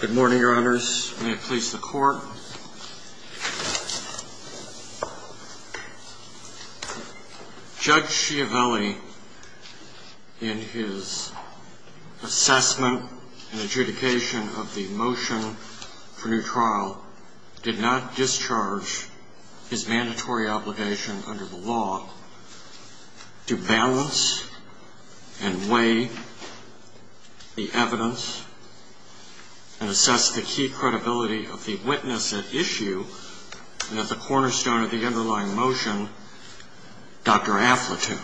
Good morning, your honors. May it please the court. Judge Schiavelli, in his assessment and adjudication of the motion for new trial, did not discharge his mandatory obligation under the law to balance and weigh the evidence and assess the key credibility of the witness at issue and at the cornerstone of the underlying motion, Dr. Affletoo.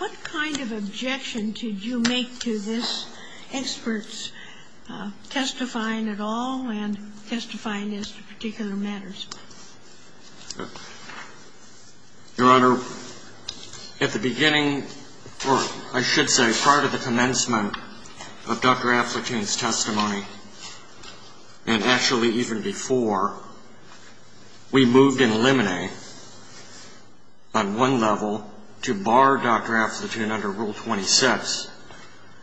What kind of objection did you make to this expert's testifying at all and testifying as to particular matters? Your honor, at the beginning, or I should say prior to the commencement of Dr. Affletoon's testimony, and actually even before, we moved in limine on one level to bar Dr. Affletoon under Rule 26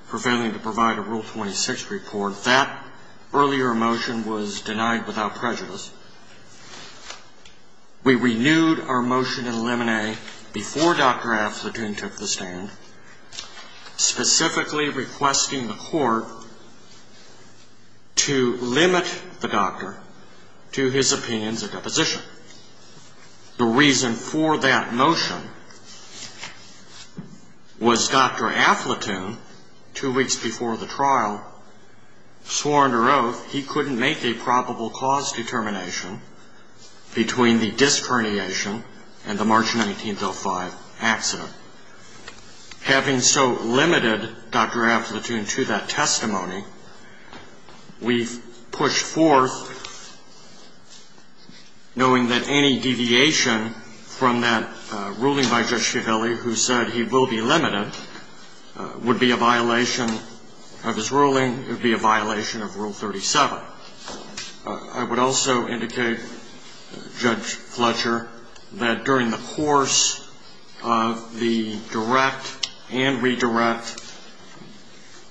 for failing to provide a Rule 26 report. That earlier motion was denied without prejudice. We renewed our motion in limine before Dr. Affletoon took the stand, specifically requesting the court to limit the doctor to his opinions or deposition. The reason for that motion was Dr. Affletoon, two weeks before the trial, swore under oath he couldn't make a probable cause determination between the disc herniation and the March 1905 accident. Having so limited Dr. Affletoon to that testimony, we pushed forth knowing that any deviation from that ruling by Judge Schiavelli, who said he will be limited, would be a violation of his ruling, would be a violation of Rule 37. I would also indicate, Judge Fletcher, that during the course of the direct and redirect,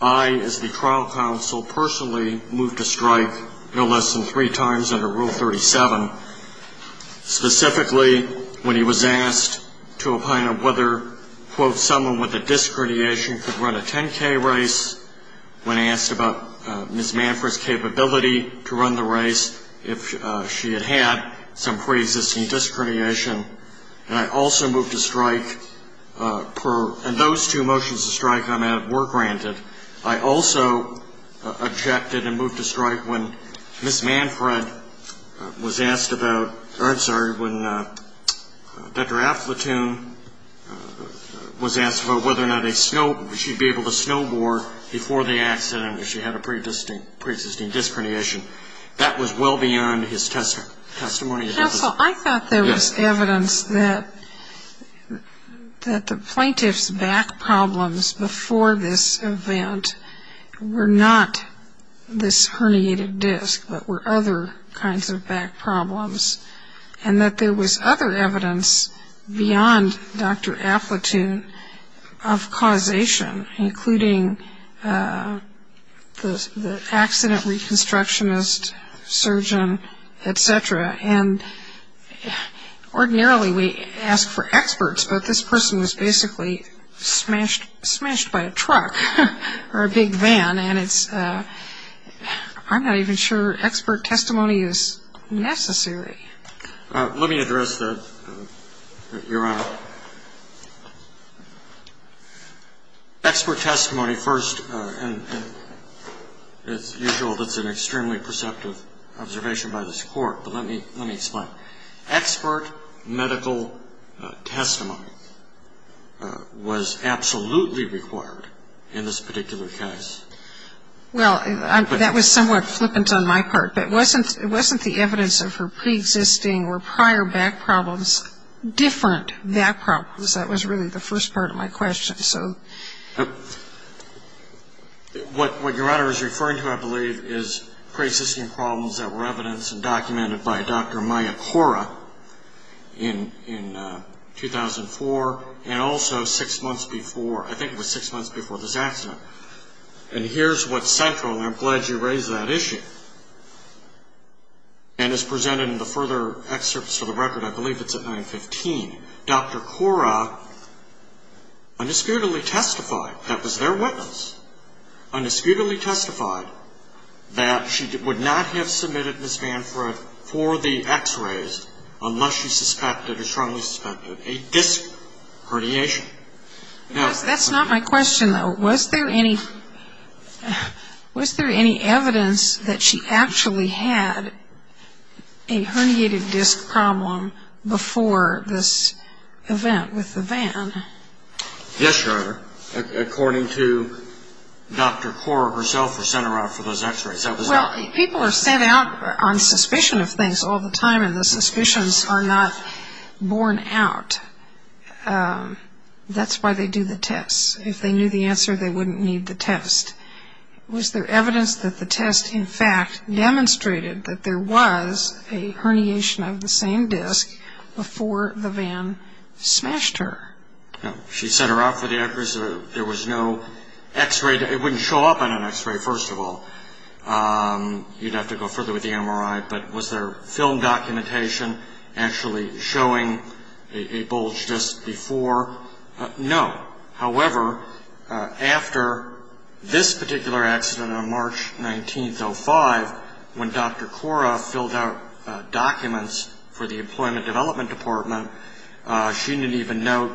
I as the trial counsel personally moved to strike no less than three times under Rule 37, specifically when he was asked to opine on whether, quote, someone with a disc herniation could run a 10K race, when asked about Ms. Manfred's capability to run the race if she had had some pre-existing disc herniation. And I also moved to strike, and those two motions to strike on that were granted. I also objected and moved to strike when Ms. Manfred was asked about, or I'm sorry, when Dr. Affletoon was asked about whether or not a snow, she'd be able to snowboard before the accident if she had a pre-existing disc herniation. That was well beyond his testimony. Counsel, I thought there was evidence that the plaintiff's back problems before this event were not this herniated disc, but were other kinds of back problems, and that there was other evidence beyond Dr. Affletoon of causation, including the accident reconstructionist surgeon, et cetera. And ordinarily we ask for experts, but this person was basically smashed by a truck or a big van, and it's, I'm not even sure expert testimony is necessary. Let me address that, Your Honor. Expert testimony first, and as usual, that's an extremely perceptive observation by this Court, but let me explain. Expert medical testimony was absolutely required in this particular case. Well, that was somewhat flippant on my part, but wasn't the evidence of her pre-existing or prior back problems different back problems? That was really the first part of my question. What Your Honor is referring to, I believe, is pre-existing problems that were evidenced and documented by Dr. Maya Cora in 2004, and also six months before, I think it was six months before this accident. And here's what's central, and I'm glad you raised that issue, and is presented in the further excerpts of the record, I believe it's at 915. Dr. Cora undisputedly testified, that was their witness, undisputedly testified that she would not have submitted Ms. Manfred for the x-rays unless she suspected or strongly suspected a disc herniation. That's not my question, though. Was there any evidence that she actually had a herniated disc problem before this event with the van? Yes, Your Honor. According to Dr. Cora herself, was sent around for those x-rays. Well, people are sent out on suspicion of things all the time, and the suspicions are not borne out. That's why they do the tests. If they knew the answer, they wouldn't need the test. Was there evidence that the test, in fact, demonstrated that there was a herniation of the same disc before the van smashed her? She sent her out for the x-rays. There was no x-ray. It wouldn't show up on an x-ray, first of all. You'd have to go further with the MRI. But was there film documentation actually showing a bulged disc before? No. However, after this particular accident on development department, she didn't even note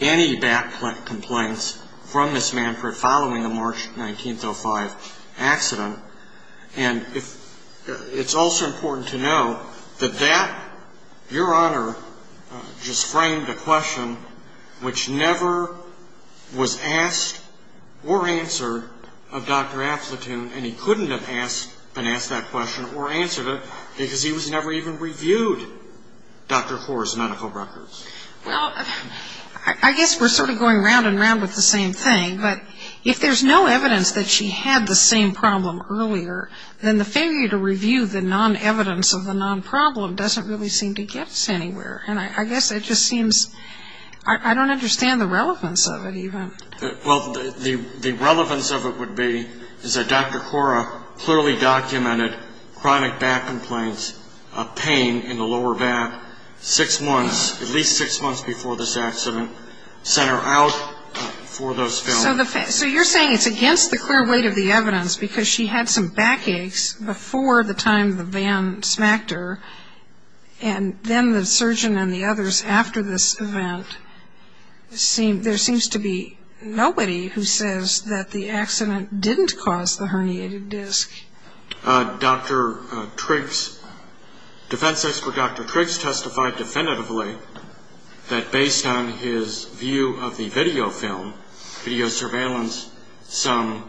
any back complaints from Ms. Manfred following the March 1905 accident. And it's also important to note that that, Your Honor, just framed a question which never was asked or answered of Dr. Aplatoon, and he couldn't have asked that question or answered it because he was never even reviewed Dr. Cora's medical records. Well, I guess we're sort of going round and round with the same thing, but if there's no evidence that she had the same problem earlier, then the failure to review the non-evidence of the non-problem doesn't really seem to get us anywhere. And I guess it just seems I don't understand the relevance of it even. Well, the relevance of it would be is that Dr. Cora clearly documented chronic back complaints, pain in the lower back, six months, at least six months before this accident, sent her out for those films. So you're saying it's against the clear weight of the evidence because she had some back aches before the time the van smacked her, and then the surgeon and nobody who says that the accident didn't cause the herniated disc? Dr. Triggs, defense expert Dr. Triggs testified definitively that based on his view of the video film, video surveillance, some,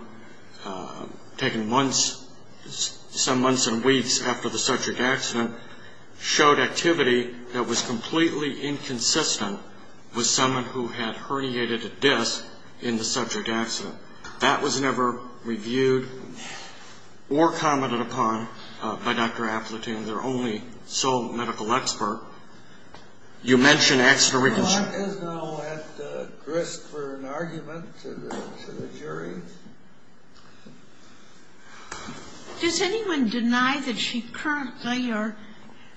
taken months, some months and weeks after the subject accident, showed activity that was completely inconsistent with someone who had herniated disc in the subject accident. That was never reviewed or commented upon by Dr. Appletine, their only sole medical expert. You mention accident Cora is now at risk for an argument to the jury. Does anyone deny that she currently or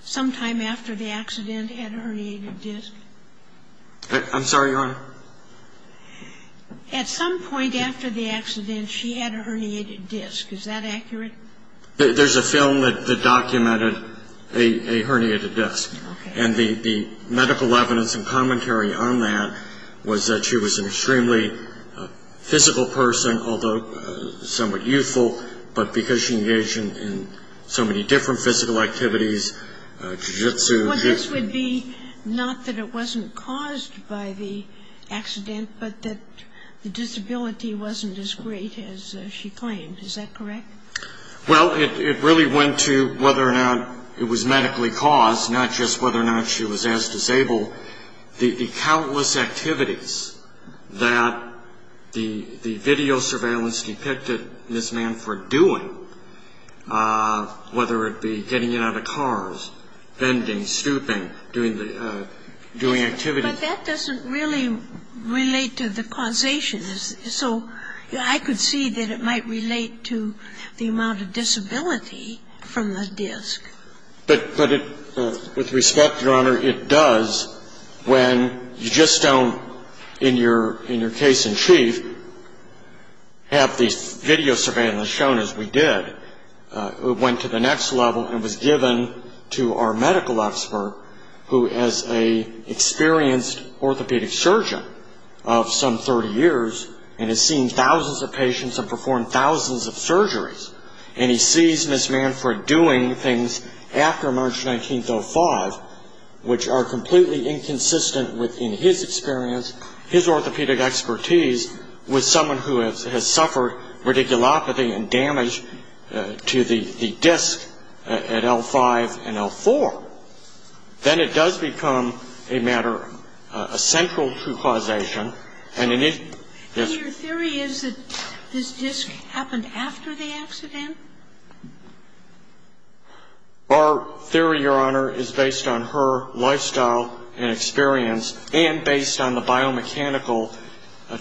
sometime after the accident had a herniated disc? I'm sorry, Your Honor? At some point after the accident, she had a herniated disc. Is that accurate? There's a film that documented a herniated disc. Okay. And the medical evidence and commentary on that was that she was an extremely physical person, although somewhat youthful, but because she engaged in so many different physical activities, jiu-jitsu, Well, this would be not that it wasn't caused by the accident, but that the disability wasn't as great as she claimed. Is that correct? Well, it really went to whether or not it was medically caused, not just whether or not she was as disabled. The countless activities that the video surveillance depicted this man for doing, whether it be getting in and out of cars, bending, stooping, doing activity. But that doesn't really relate to the causation. So I could see that it might relate to the amount of disability from the disc. But with respect, Your Honor, it does when you just don't, in your case in chief, have the video surveillance shown as we did. It went to the next level and was given to our medical expert, who is an experienced orthopedic surgeon of some 30 years and has seen thousands of patients and performed thousands of surgeries. And he sees this man for doing things after March 19, 1905, which are completely inconsistent within his experience, his orthopedic expertise, with someone who has suffered radiculopathy and damage to the disc at L-5 and L-4. Then it does become a matter, a central true causation. And your theory is that this disc happened after the accident? Our theory, Your Honor, is based on her lifestyle and experience, and based on the biomechanical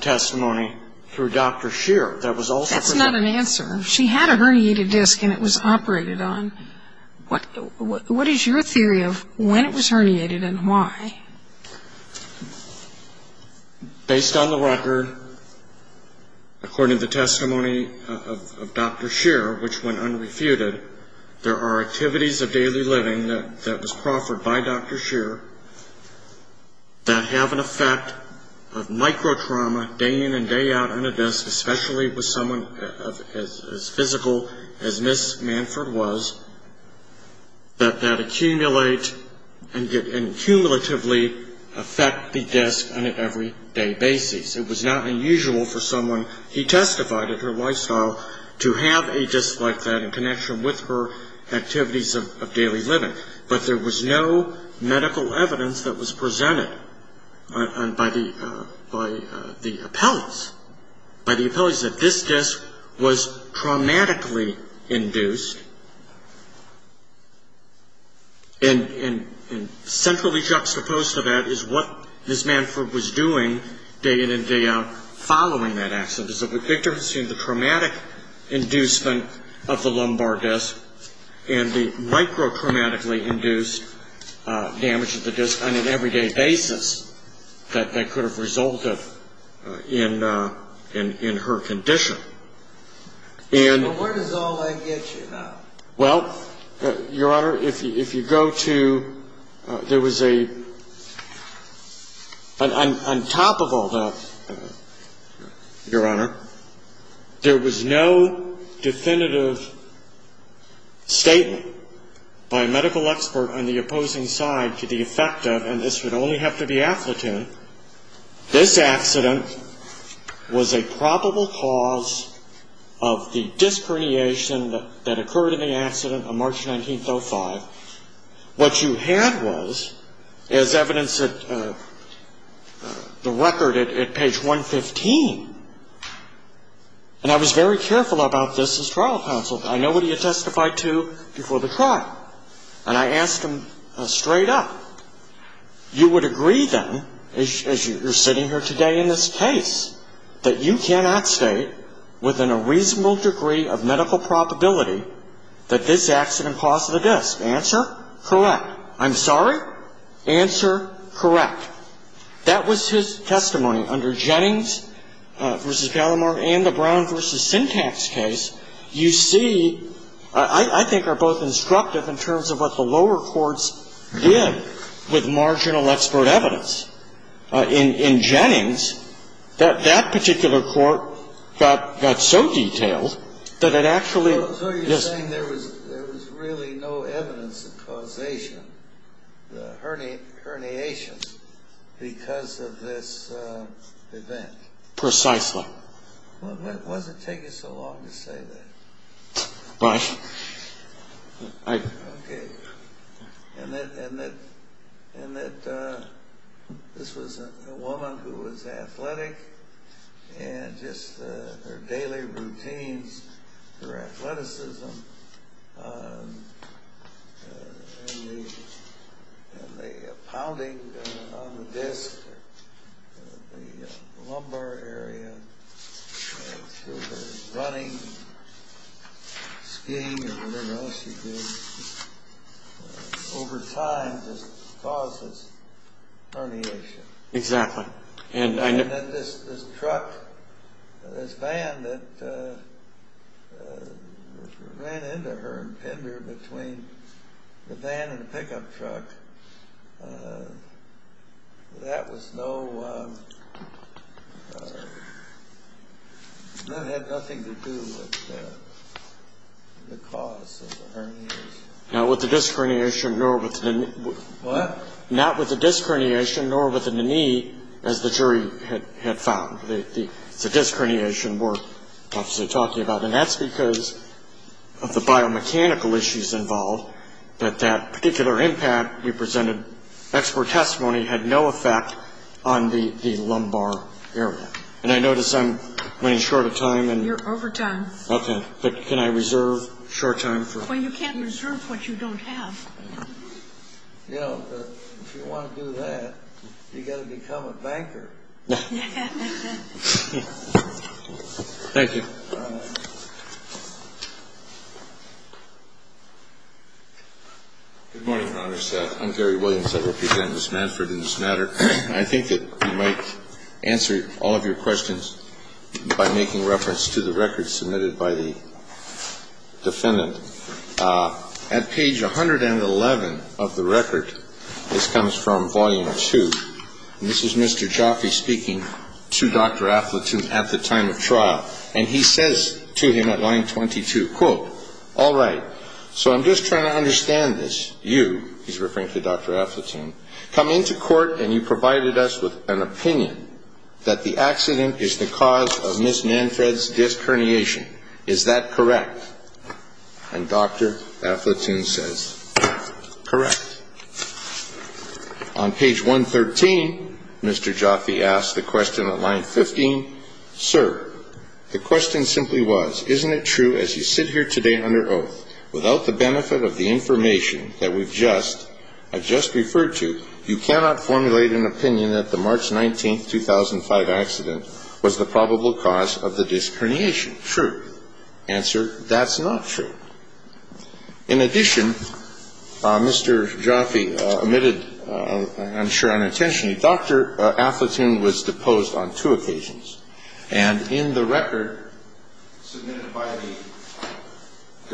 testimony through Dr. Scheer that was also present. That's not an answer. She had a herniated disc and it was operated on. What is your theory of when it was herniated and why? Based on the record, according to the testimony of Dr. Scheer, which went unrefuted, there are activities of daily living that was proffered by Dr. Scheer that have an effect of microtrauma day in and day out on a disc, especially with someone as physical as Ms. Manford was, that that accumulate and cumulatively affect the disc on an everyday basis. It was not unusual for someone, he testified in her lifestyle, to have a disc like that in connection with her activities of daily living. But there was no medical evidence that was presented by the appellees, by the appellees, that this disc was traumatically induced. And centrally juxtaposed to that is what Ms. Manford was doing day in and day out, following that accident. So what Victor has seen is the traumatic inducement of the lumbar disc and the microtraumatically induced damage to the disc on an everyday basis that could have resulted in her condition. Well, where does all that get you now? Well, Your Honor, if you go to, there was a, on top of all that, Your Honor, there was no definitive statement by a medical expert on the opposing side to the effect of, and this would only have to be affluent, this accident was a probable cause of the disc herniation that occurred in the accident on March 19th, 05. What you had was, as evidenced at the record at page 115, and I was very careful about this as trial counsel. I know what he had testified to before the trial, and I asked him straight up, you would agree then, as you're sitting here today in this case, that you cannot state within a reasonable degree of medical probability that this accident caused the disc. Answer, correct. I'm sorry? Answer, correct. That was his testimony under Jennings v. Gallimore and the Brown v. Syntax case. You see, I think, are both instructive in terms of what the lower courts did with marginal expert evidence. In Jennings, that particular court got so detailed that it actually, yes? So you're saying there was really no evidence of causation, the herniations, because of this event? Precisely. It wasn't taking so long to say that. Right. Okay. And that this was a woman who was athletic, and just her daily routines, her athleticism, and the pounding on the disc, the lumbar area, her running, skiing, and whatever else she did, over time just causes herniation. Exactly. And that this truck, this van that ran into her and pinned her between the van and the pickup truck, that had nothing to do with the cause of the herniations. Not with the disc herniation, nor with the knee. What? Not with the disc herniation, nor with the knee, as the jury had found. The disc herniation we're obviously talking about, and that's because of the biomechanical issues involved, that that particular impact we presented, expert testimony, had no effect on the lumbar area. And I notice I'm running short of time. You're over time. Okay. But can I reserve short time? Well, you can't reserve what you don't have. You know, if you want to do that, you've got to become a banker. Thank you. Good morning, Your Honor. I'm Gary Williams. I represent Ms. Manford in this matter. I think that you might answer all of your questions by making reference to the record submitted by the defendant. At page 111 of the record, this comes from Volume 2, and this is Mr. Jaffe speaking to Dr. Aflatoon at the time of trial. And he says to him at line 22, quote, All right, so I'm just trying to understand this. You, he's referring to Dr. Aflatoon, come into court and you provided us with an opinion that the accident is the cause of Ms. Manford's disc herniation. Is that correct? And Dr. Aflatoon says, correct. On page 113, Mr. Jaffe asked the question at line 15, Sir, the question simply was, isn't it true as you sit here today under oath, without the benefit of the information that we've just, I've just referred to, you cannot formulate an opinion that the March 19, 2005 accident was the probable cause of the disc herniation. Is it true? Answer, that's not true. In addition, Mr. Jaffe omitted, I'm sure unintentionally, Dr. Aflatoon was deposed on two occasions. And in the record submitted by the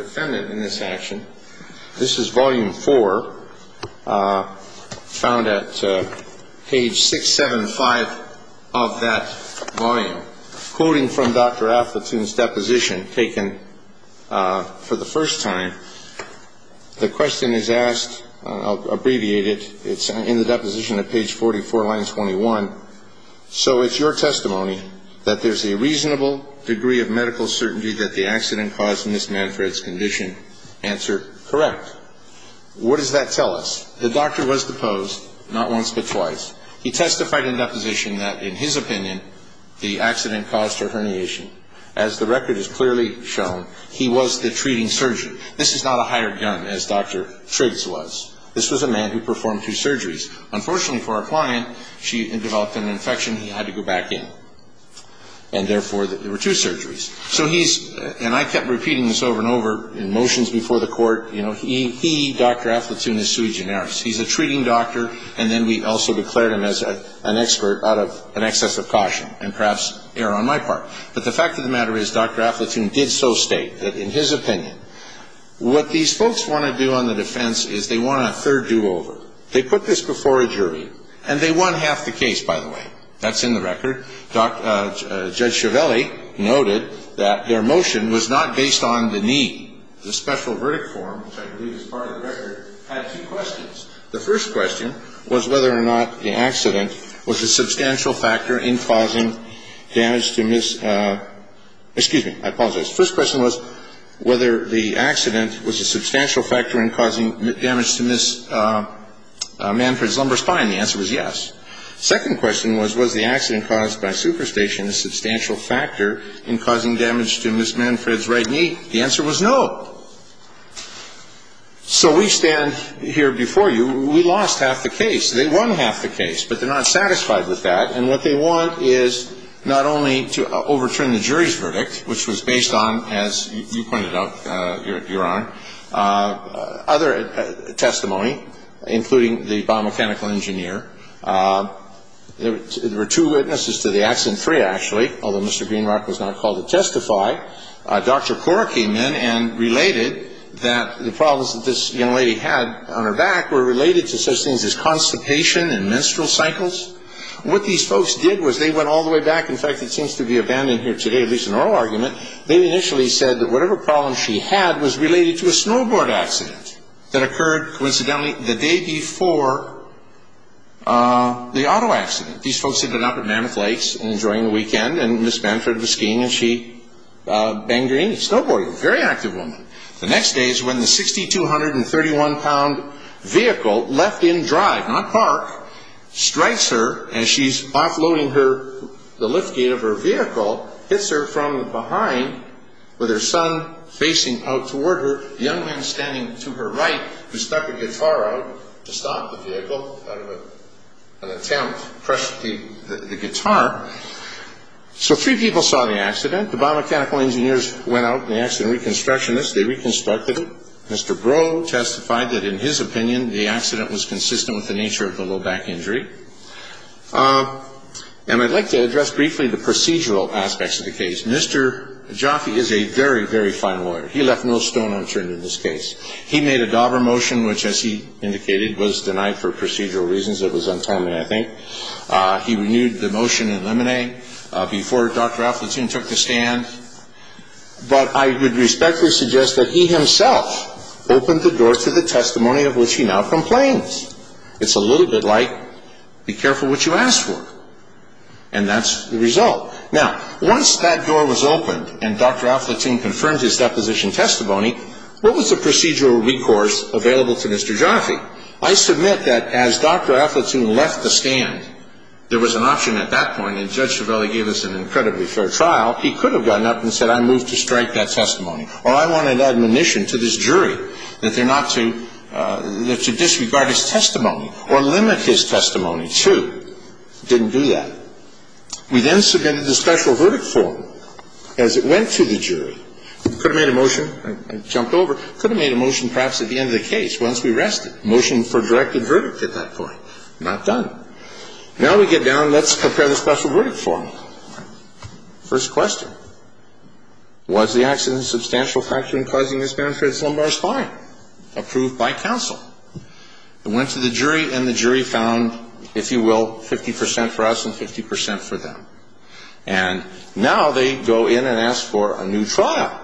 defendant in this action, this is Volume 4, found at page 675 of that volume, quoting from Dr. Aflatoon's deposition taken for the first time, the question is asked, I'll abbreviate it, it's in the deposition at page 44, line 21. So it's your testimony that there's a reasonable degree of medical certainty that the accident caused Ms. Manford's condition. Answer, correct. What does that tell us? The doctor was deposed, not once but twice. He testified in deposition that, in his opinion, the accident caused her herniation. As the record has clearly shown, he was the treating surgeon. This is not a hired gun, as Dr. Triggs was. This was a man who performed two surgeries. Unfortunately for our client, she developed an infection, he had to go back in. And therefore, there were two surgeries. So he's, and I kept repeating this over and over in motions before the court, you know, he, Dr. Aflatoon, is sui generis. He's a treating doctor, and then we also declared him as an expert out of an excess of caution, and perhaps err on my part. But the fact of the matter is, Dr. Aflatoon did so state that, in his opinion, what these folks want to do on the defense is they want a third do-over. They put this before a jury, and they won half the case, by the way. That's in the record. Judge Chiavelli noted that their motion was not based on the need. The special verdict form, which I believe is part of the record, had two questions. The first question was whether or not the accident was a substantial factor in causing damage to Ms. Excuse me, I apologize. First question was whether the accident was a substantial factor in causing damage to Ms. Manfred's lumbar spine. The answer was yes. Second question was, was the accident caused by superstition a substantial factor in causing damage to Ms. Manfred's right knee? The answer was no. So we stand here before you. We lost half the case. They won half the case, but they're not satisfied with that. And what they want is not only to overturn the jury's verdict, which was based on, as you pointed out, Your Honor, other testimony, including the biomechanical engineer. There were two witnesses to the accident, three actually, although Mr. Greenrock was not called to testify. Dr. Cora came in and related that the problems that this young lady had on her back were related to such things as constipation and menstrual cycles. What these folks did was they went all the way back. In fact, it seems to be abandoned here today, at least in oral argument. They initially said that whatever problem she had was related to a snowboard accident that occurred, coincidentally, the day before the auto accident. These folks ended up at Mammoth Lakes enjoying the weekend, and Ms. Manfred was skiing, and she banged her knee. Snowboarding. Very active woman. The next day is when the 6,231-pound vehicle left in drive, not park, strikes her, and she's offloading the liftgate of her vehicle, hits her from behind with her son facing out toward her, young man standing to her right who stuck a guitar out to stop the vehicle out of an attempt, crushed the guitar. So three people saw the accident. The biomechanical engineers went out and they asked the reconstructionists. They reconstructed it. Mr. Brough testified that, in his opinion, the accident was consistent with the nature of the low back injury. And I'd like to address briefly the procedural aspects of the case. Mr. Jaffe is a very, very fine lawyer. He left no stone unturned in this case. He made a Dauber motion, which, as he indicated, was denied for procedural reasons. It was untimely, I think. He renewed the motion in limine before Dr. Aflatoon took the stand. But I would respectfully suggest that he himself opened the door to the testimony of which he now complains. It's a little bit like, be careful what you ask for. And that's the result. Now, once that door was opened and Dr. Aflatoon confirmed his deposition testimony, what was the procedural recourse available to Mr. Jaffe? I submit that as Dr. Aflatoon left the stand, there was an option at that point, and Judge Cervelli gave us an incredibly fair trial. He could have gotten up and said, I move to strike that testimony. Or I wanted admonition to this jury that they're not to disregard his testimony or limit his testimony, too. Didn't do that. We then submitted the special verdict form as it went to the jury. Could have made a motion. I jumped over. Could have made a motion perhaps at the end of the case once we rested. Motion for directed verdict at that point. Not done. Now we get down. Let's compare the special verdict form. First question. Was the accident a substantial factor in causing this benefit? Slumbar's fine. Approved by counsel. It went to the jury, and the jury found, if you will, 50% for us and 50% for them. And now they go in and ask for a new trial.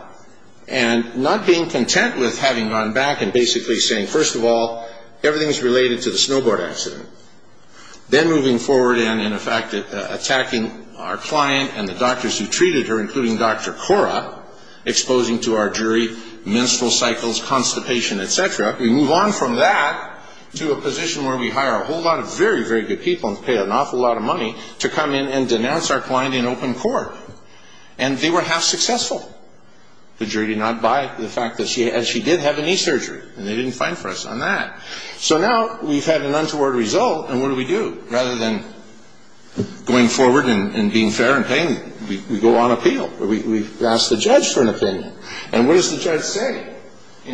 And not being content with having gone back and basically saying, first of all, everything's related to the snowboard accident. Then moving forward and, in effect, attacking our client and the doctors who treated her, including Dr. Cora, exposing to our jury menstrual cycles, constipation, et cetera. We move on from that to a position where we hire a whole lot of very, very good people and pay an awful lot of money to come in and denounce our client in open court. And they were half successful. The jury did not buy the fact that she did have a knee surgery, and they didn't fine for us on that. So now we've had an untoward result, and what do we do? Rather than going forward and being fair and paying, we go on appeal. We ask the judge for an opinion. And what does the judge say? He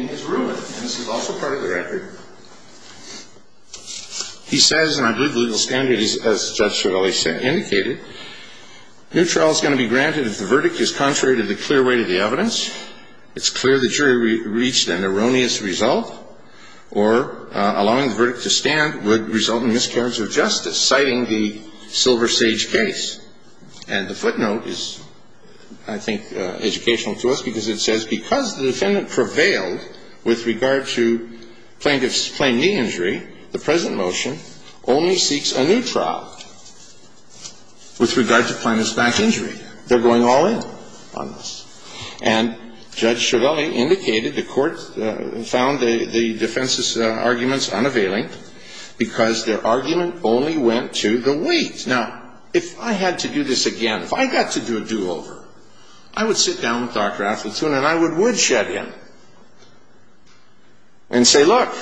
says, and I believe the legal standard is, as Judge Cervelli said, indicated, new trial is going to be granted if the verdict is contrary to the clear weight of the evidence, it's clear the jury reached an erroneous result, or allowing the verdict to stand would result in miscarriage of justice, citing the Silver Sage case. And the footnote is, I think, educational to us because it says, because the defendant prevailed with regard to plaintiff's plain knee injury, the present motion only seeks a new trial with regard to plaintiff's back injury. They're going all in on this. And Judge Cervelli indicated the court found the defense's arguments unavailing because their argument only went to the weight. Now, if I had to do this again, if I got to do a do-over, I would sit down with Dr. Affletoon and I would woodshed him and say, look,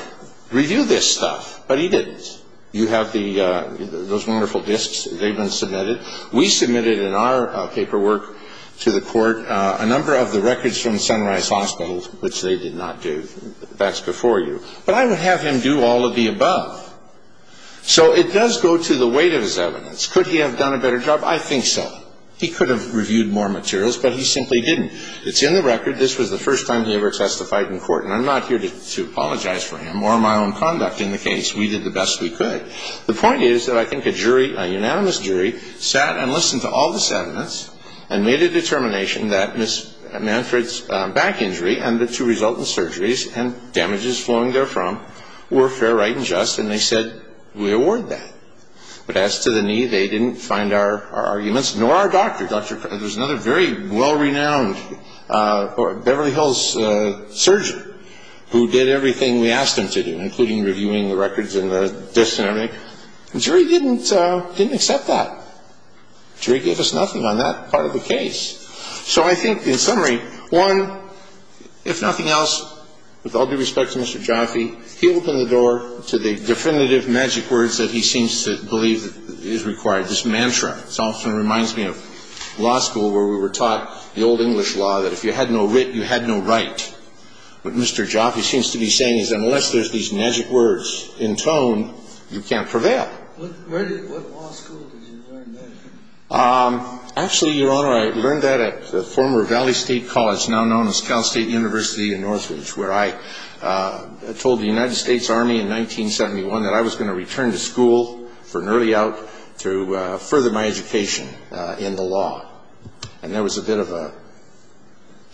review this stuff. But he didn't. You have those wonderful disks. They've been submitted. We submitted in our paperwork to the court a number of the records from Sunrise Hospital, which they did not do. That's before you. But I would have him do all of the above. So it does go to the weight of his evidence. Could he have done a better job? I think so. He could have reviewed more materials, but he simply didn't. It's in the record. This was the first time he ever testified in court. And I'm not here to apologize for him or my own conduct in the case. We did the best we could. The point is that I think a jury, a unanimous jury, sat and listened to all the sentiments and made a determination that Ms. Manfred's back injury and the two resultant surgeries and damages flowing therefrom were fair, right, and just, and they said we award that. But as to the knee, they didn't find our arguments, nor our doctor. There was another very well-renowned Beverly Hills surgeon who did everything we asked him to do, including reviewing the records and the disks and everything. The jury didn't accept that. The jury gave us nothing on that part of the case. So I think, in summary, one, if nothing else, with all due respect to Mr. Jaffe, he opened the door to the definitive magic words that he seems to believe is required, this mantra. This often reminds me of law school where we were taught the old English law that if you had no wit, you had no right. But Mr. Jaffe seems to be saying is unless there's these magic words in tone, you can't prevail. What law school did you learn that from? Actually, Your Honor, I learned that at the former Valley State College, now known as Cal State University in Northridge, where I told the United States Army in 1971 that I was going to return to school for an early out to further my education in the law. And there was a bit of a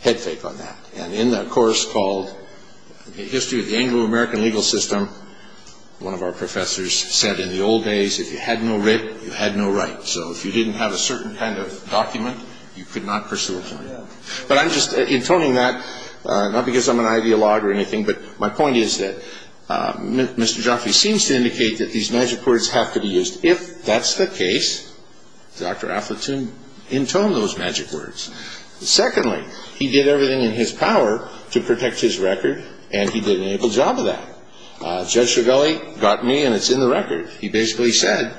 head fake on that. And in the course called History of the Anglo-American Legal System, one of our professors said in the old days, if you had no writ, you had no right. So if you didn't have a certain kind of document, you could not pursue a claim. But I'm just intoning that, not because I'm an ideologue or anything, but my point is that Mr. Jaffe seems to indicate that these magic words have to be used. If that's the case, Dr. Affleton intoned those magic words. Secondly, he did everything in his power to protect his record, and he did an able job of that. Judge Shigali got me, and it's in the record. He basically said,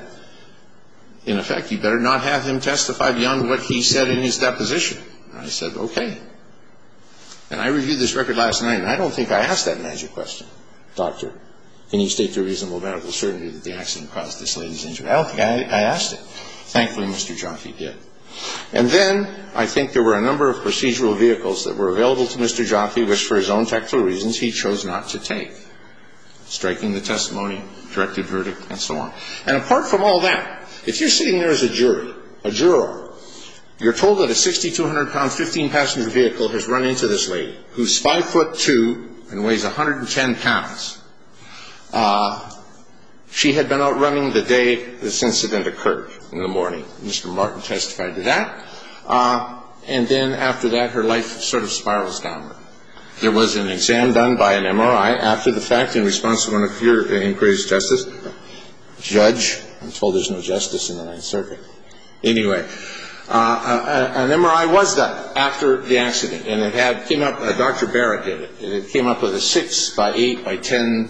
in effect, you better not have him testify beyond what he said in his deposition. And I said, okay. And I reviewed this record last night, and I don't think I asked that magic question. Doctor, can you state to a reasonable medical certainty that the accident caused this latent injury? I don't think I asked it. Thankfully, Mr. Jaffe did. And then I think there were a number of procedural vehicles that were available to Mr. Jaffe, which for his own technical reasons he chose not to take, striking the testimony, directed verdict, and so on. And apart from all that, if you're sitting there as a jury, a juror, you're told that a 6,200-pound 15-passenger vehicle has run into this lady who's 5'2 and weighs 110 pounds. She had been out running the day this incident occurred, in the morning. Mr. Martin testified to that. And then after that, her life sort of spirals downward. There was an exam done by an MRI after the fact in response to one of your inquiries, Justice. Judge, I'm told there's no justice in the Ninth Circuit. Anyway, an MRI was done after the accident. And it came up, Dr. Barrett did it, and it came up with a 6 by 8 by 10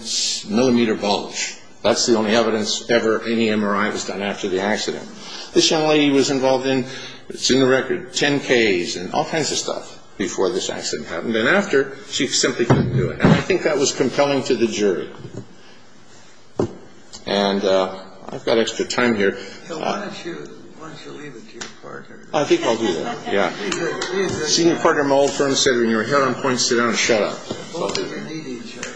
millimeter bulge. That's the only evidence ever any MRI was done after the accident. This young lady was involved in, it's in the record, 10Ks and all kinds of stuff before this accident happened. And after, she simply couldn't do it. And I think that was compelling to the jury. And I've got extra time here. Why don't you leave it to your partner? I think I'll do that. Yeah. Senior partner, my old friend, said when you're here on points, sit down and shut up. Both of you need each other.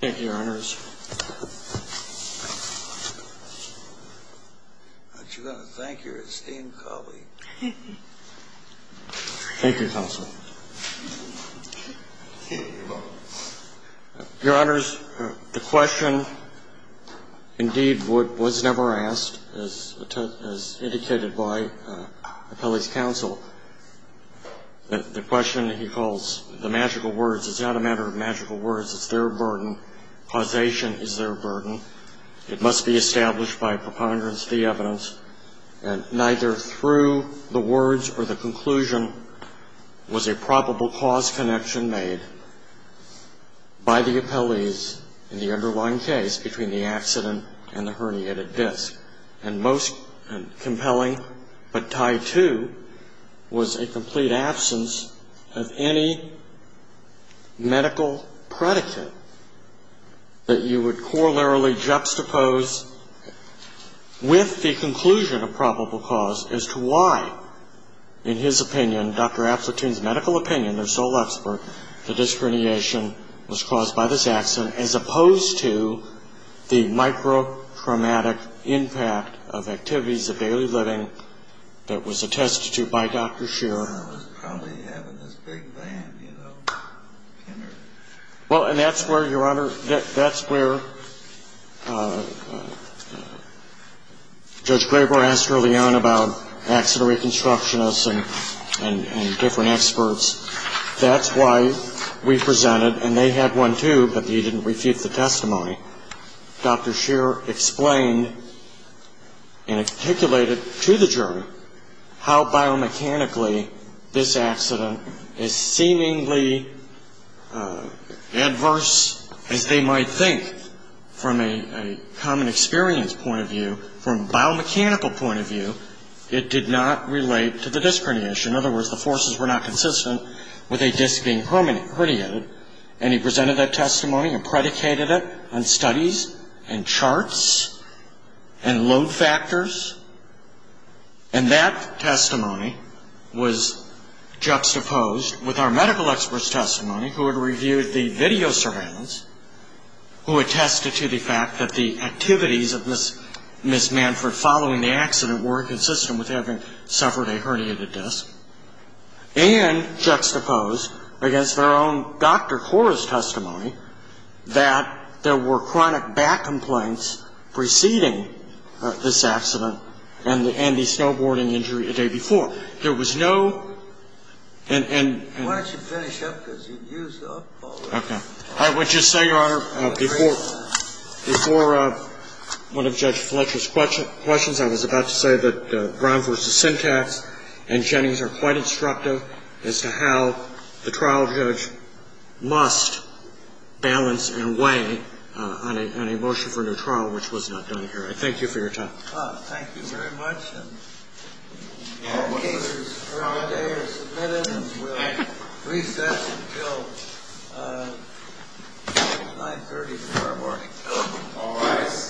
Thank you, Your Honors. Aren't you going to thank your esteemed colleague? Thank you, counsel. Your Honors, the question, indeed, was never asked, as indicated by Appellee's counsel. The question he calls the magical words, it's not a matter of magical words. It's their burden. Causation is their burden. It must be established by preponderance of the evidence, and neither through the words or the conclusion was a probable cause connection made by the appellees in the underlying case between the accident and the herniated disc. And most compelling but tied to was a complete absence of any medical predicate that you would corollarily juxtapose with the conclusion of probable cause as to why, in his opinion, Dr. Appleton's medical opinion, their sole expert, the disc herniation was caused by this accident, as opposed to the microtraumatic impact of activities of daily living that was attested to by Dr. Shearer. I was probably having this big band, you know. Well, and that's where, Your Honor, that's where Judge Graber asked early on about accident reconstructionists and different experts. That's why we presented, and they had one, too, but he didn't refute the testimony. Dr. Shearer explained and articulated to the jury how biomechanically this accident is seemingly adverse as they might think. From a common experience point of view, from a biomechanical point of view, it did not relate to the disc herniation. In other words, the forces were not consistent with a disc being herniated, and he presented that testimony and predicated it on studies and charts and load factors, and that testimony was juxtaposed with our medical experts' testimony, who had reviewed the video surveillance, who attested to the fact that the activities of Ms. Manford following the accident were inconsistent with having suffered a herniated disc, and juxtaposed against their own doctor, Cora's testimony, that there were chronic back complaints preceding this accident and the snowboarding injury the day before. There was no ‑‑ Why don't you finish up, because you used up all the time. I would just say, Your Honor, before one of Judge Fletcher's questions, I was about to say that Brown v. Syntax and Jennings are quite instructive as to how the trial judge must balance and weigh on a motion for a new trial, which was not done here. I thank you for your time. Thank you very much. All cases for today are submitted, and we'll recess until 9.30 tomorrow morning. All rise. Thank you.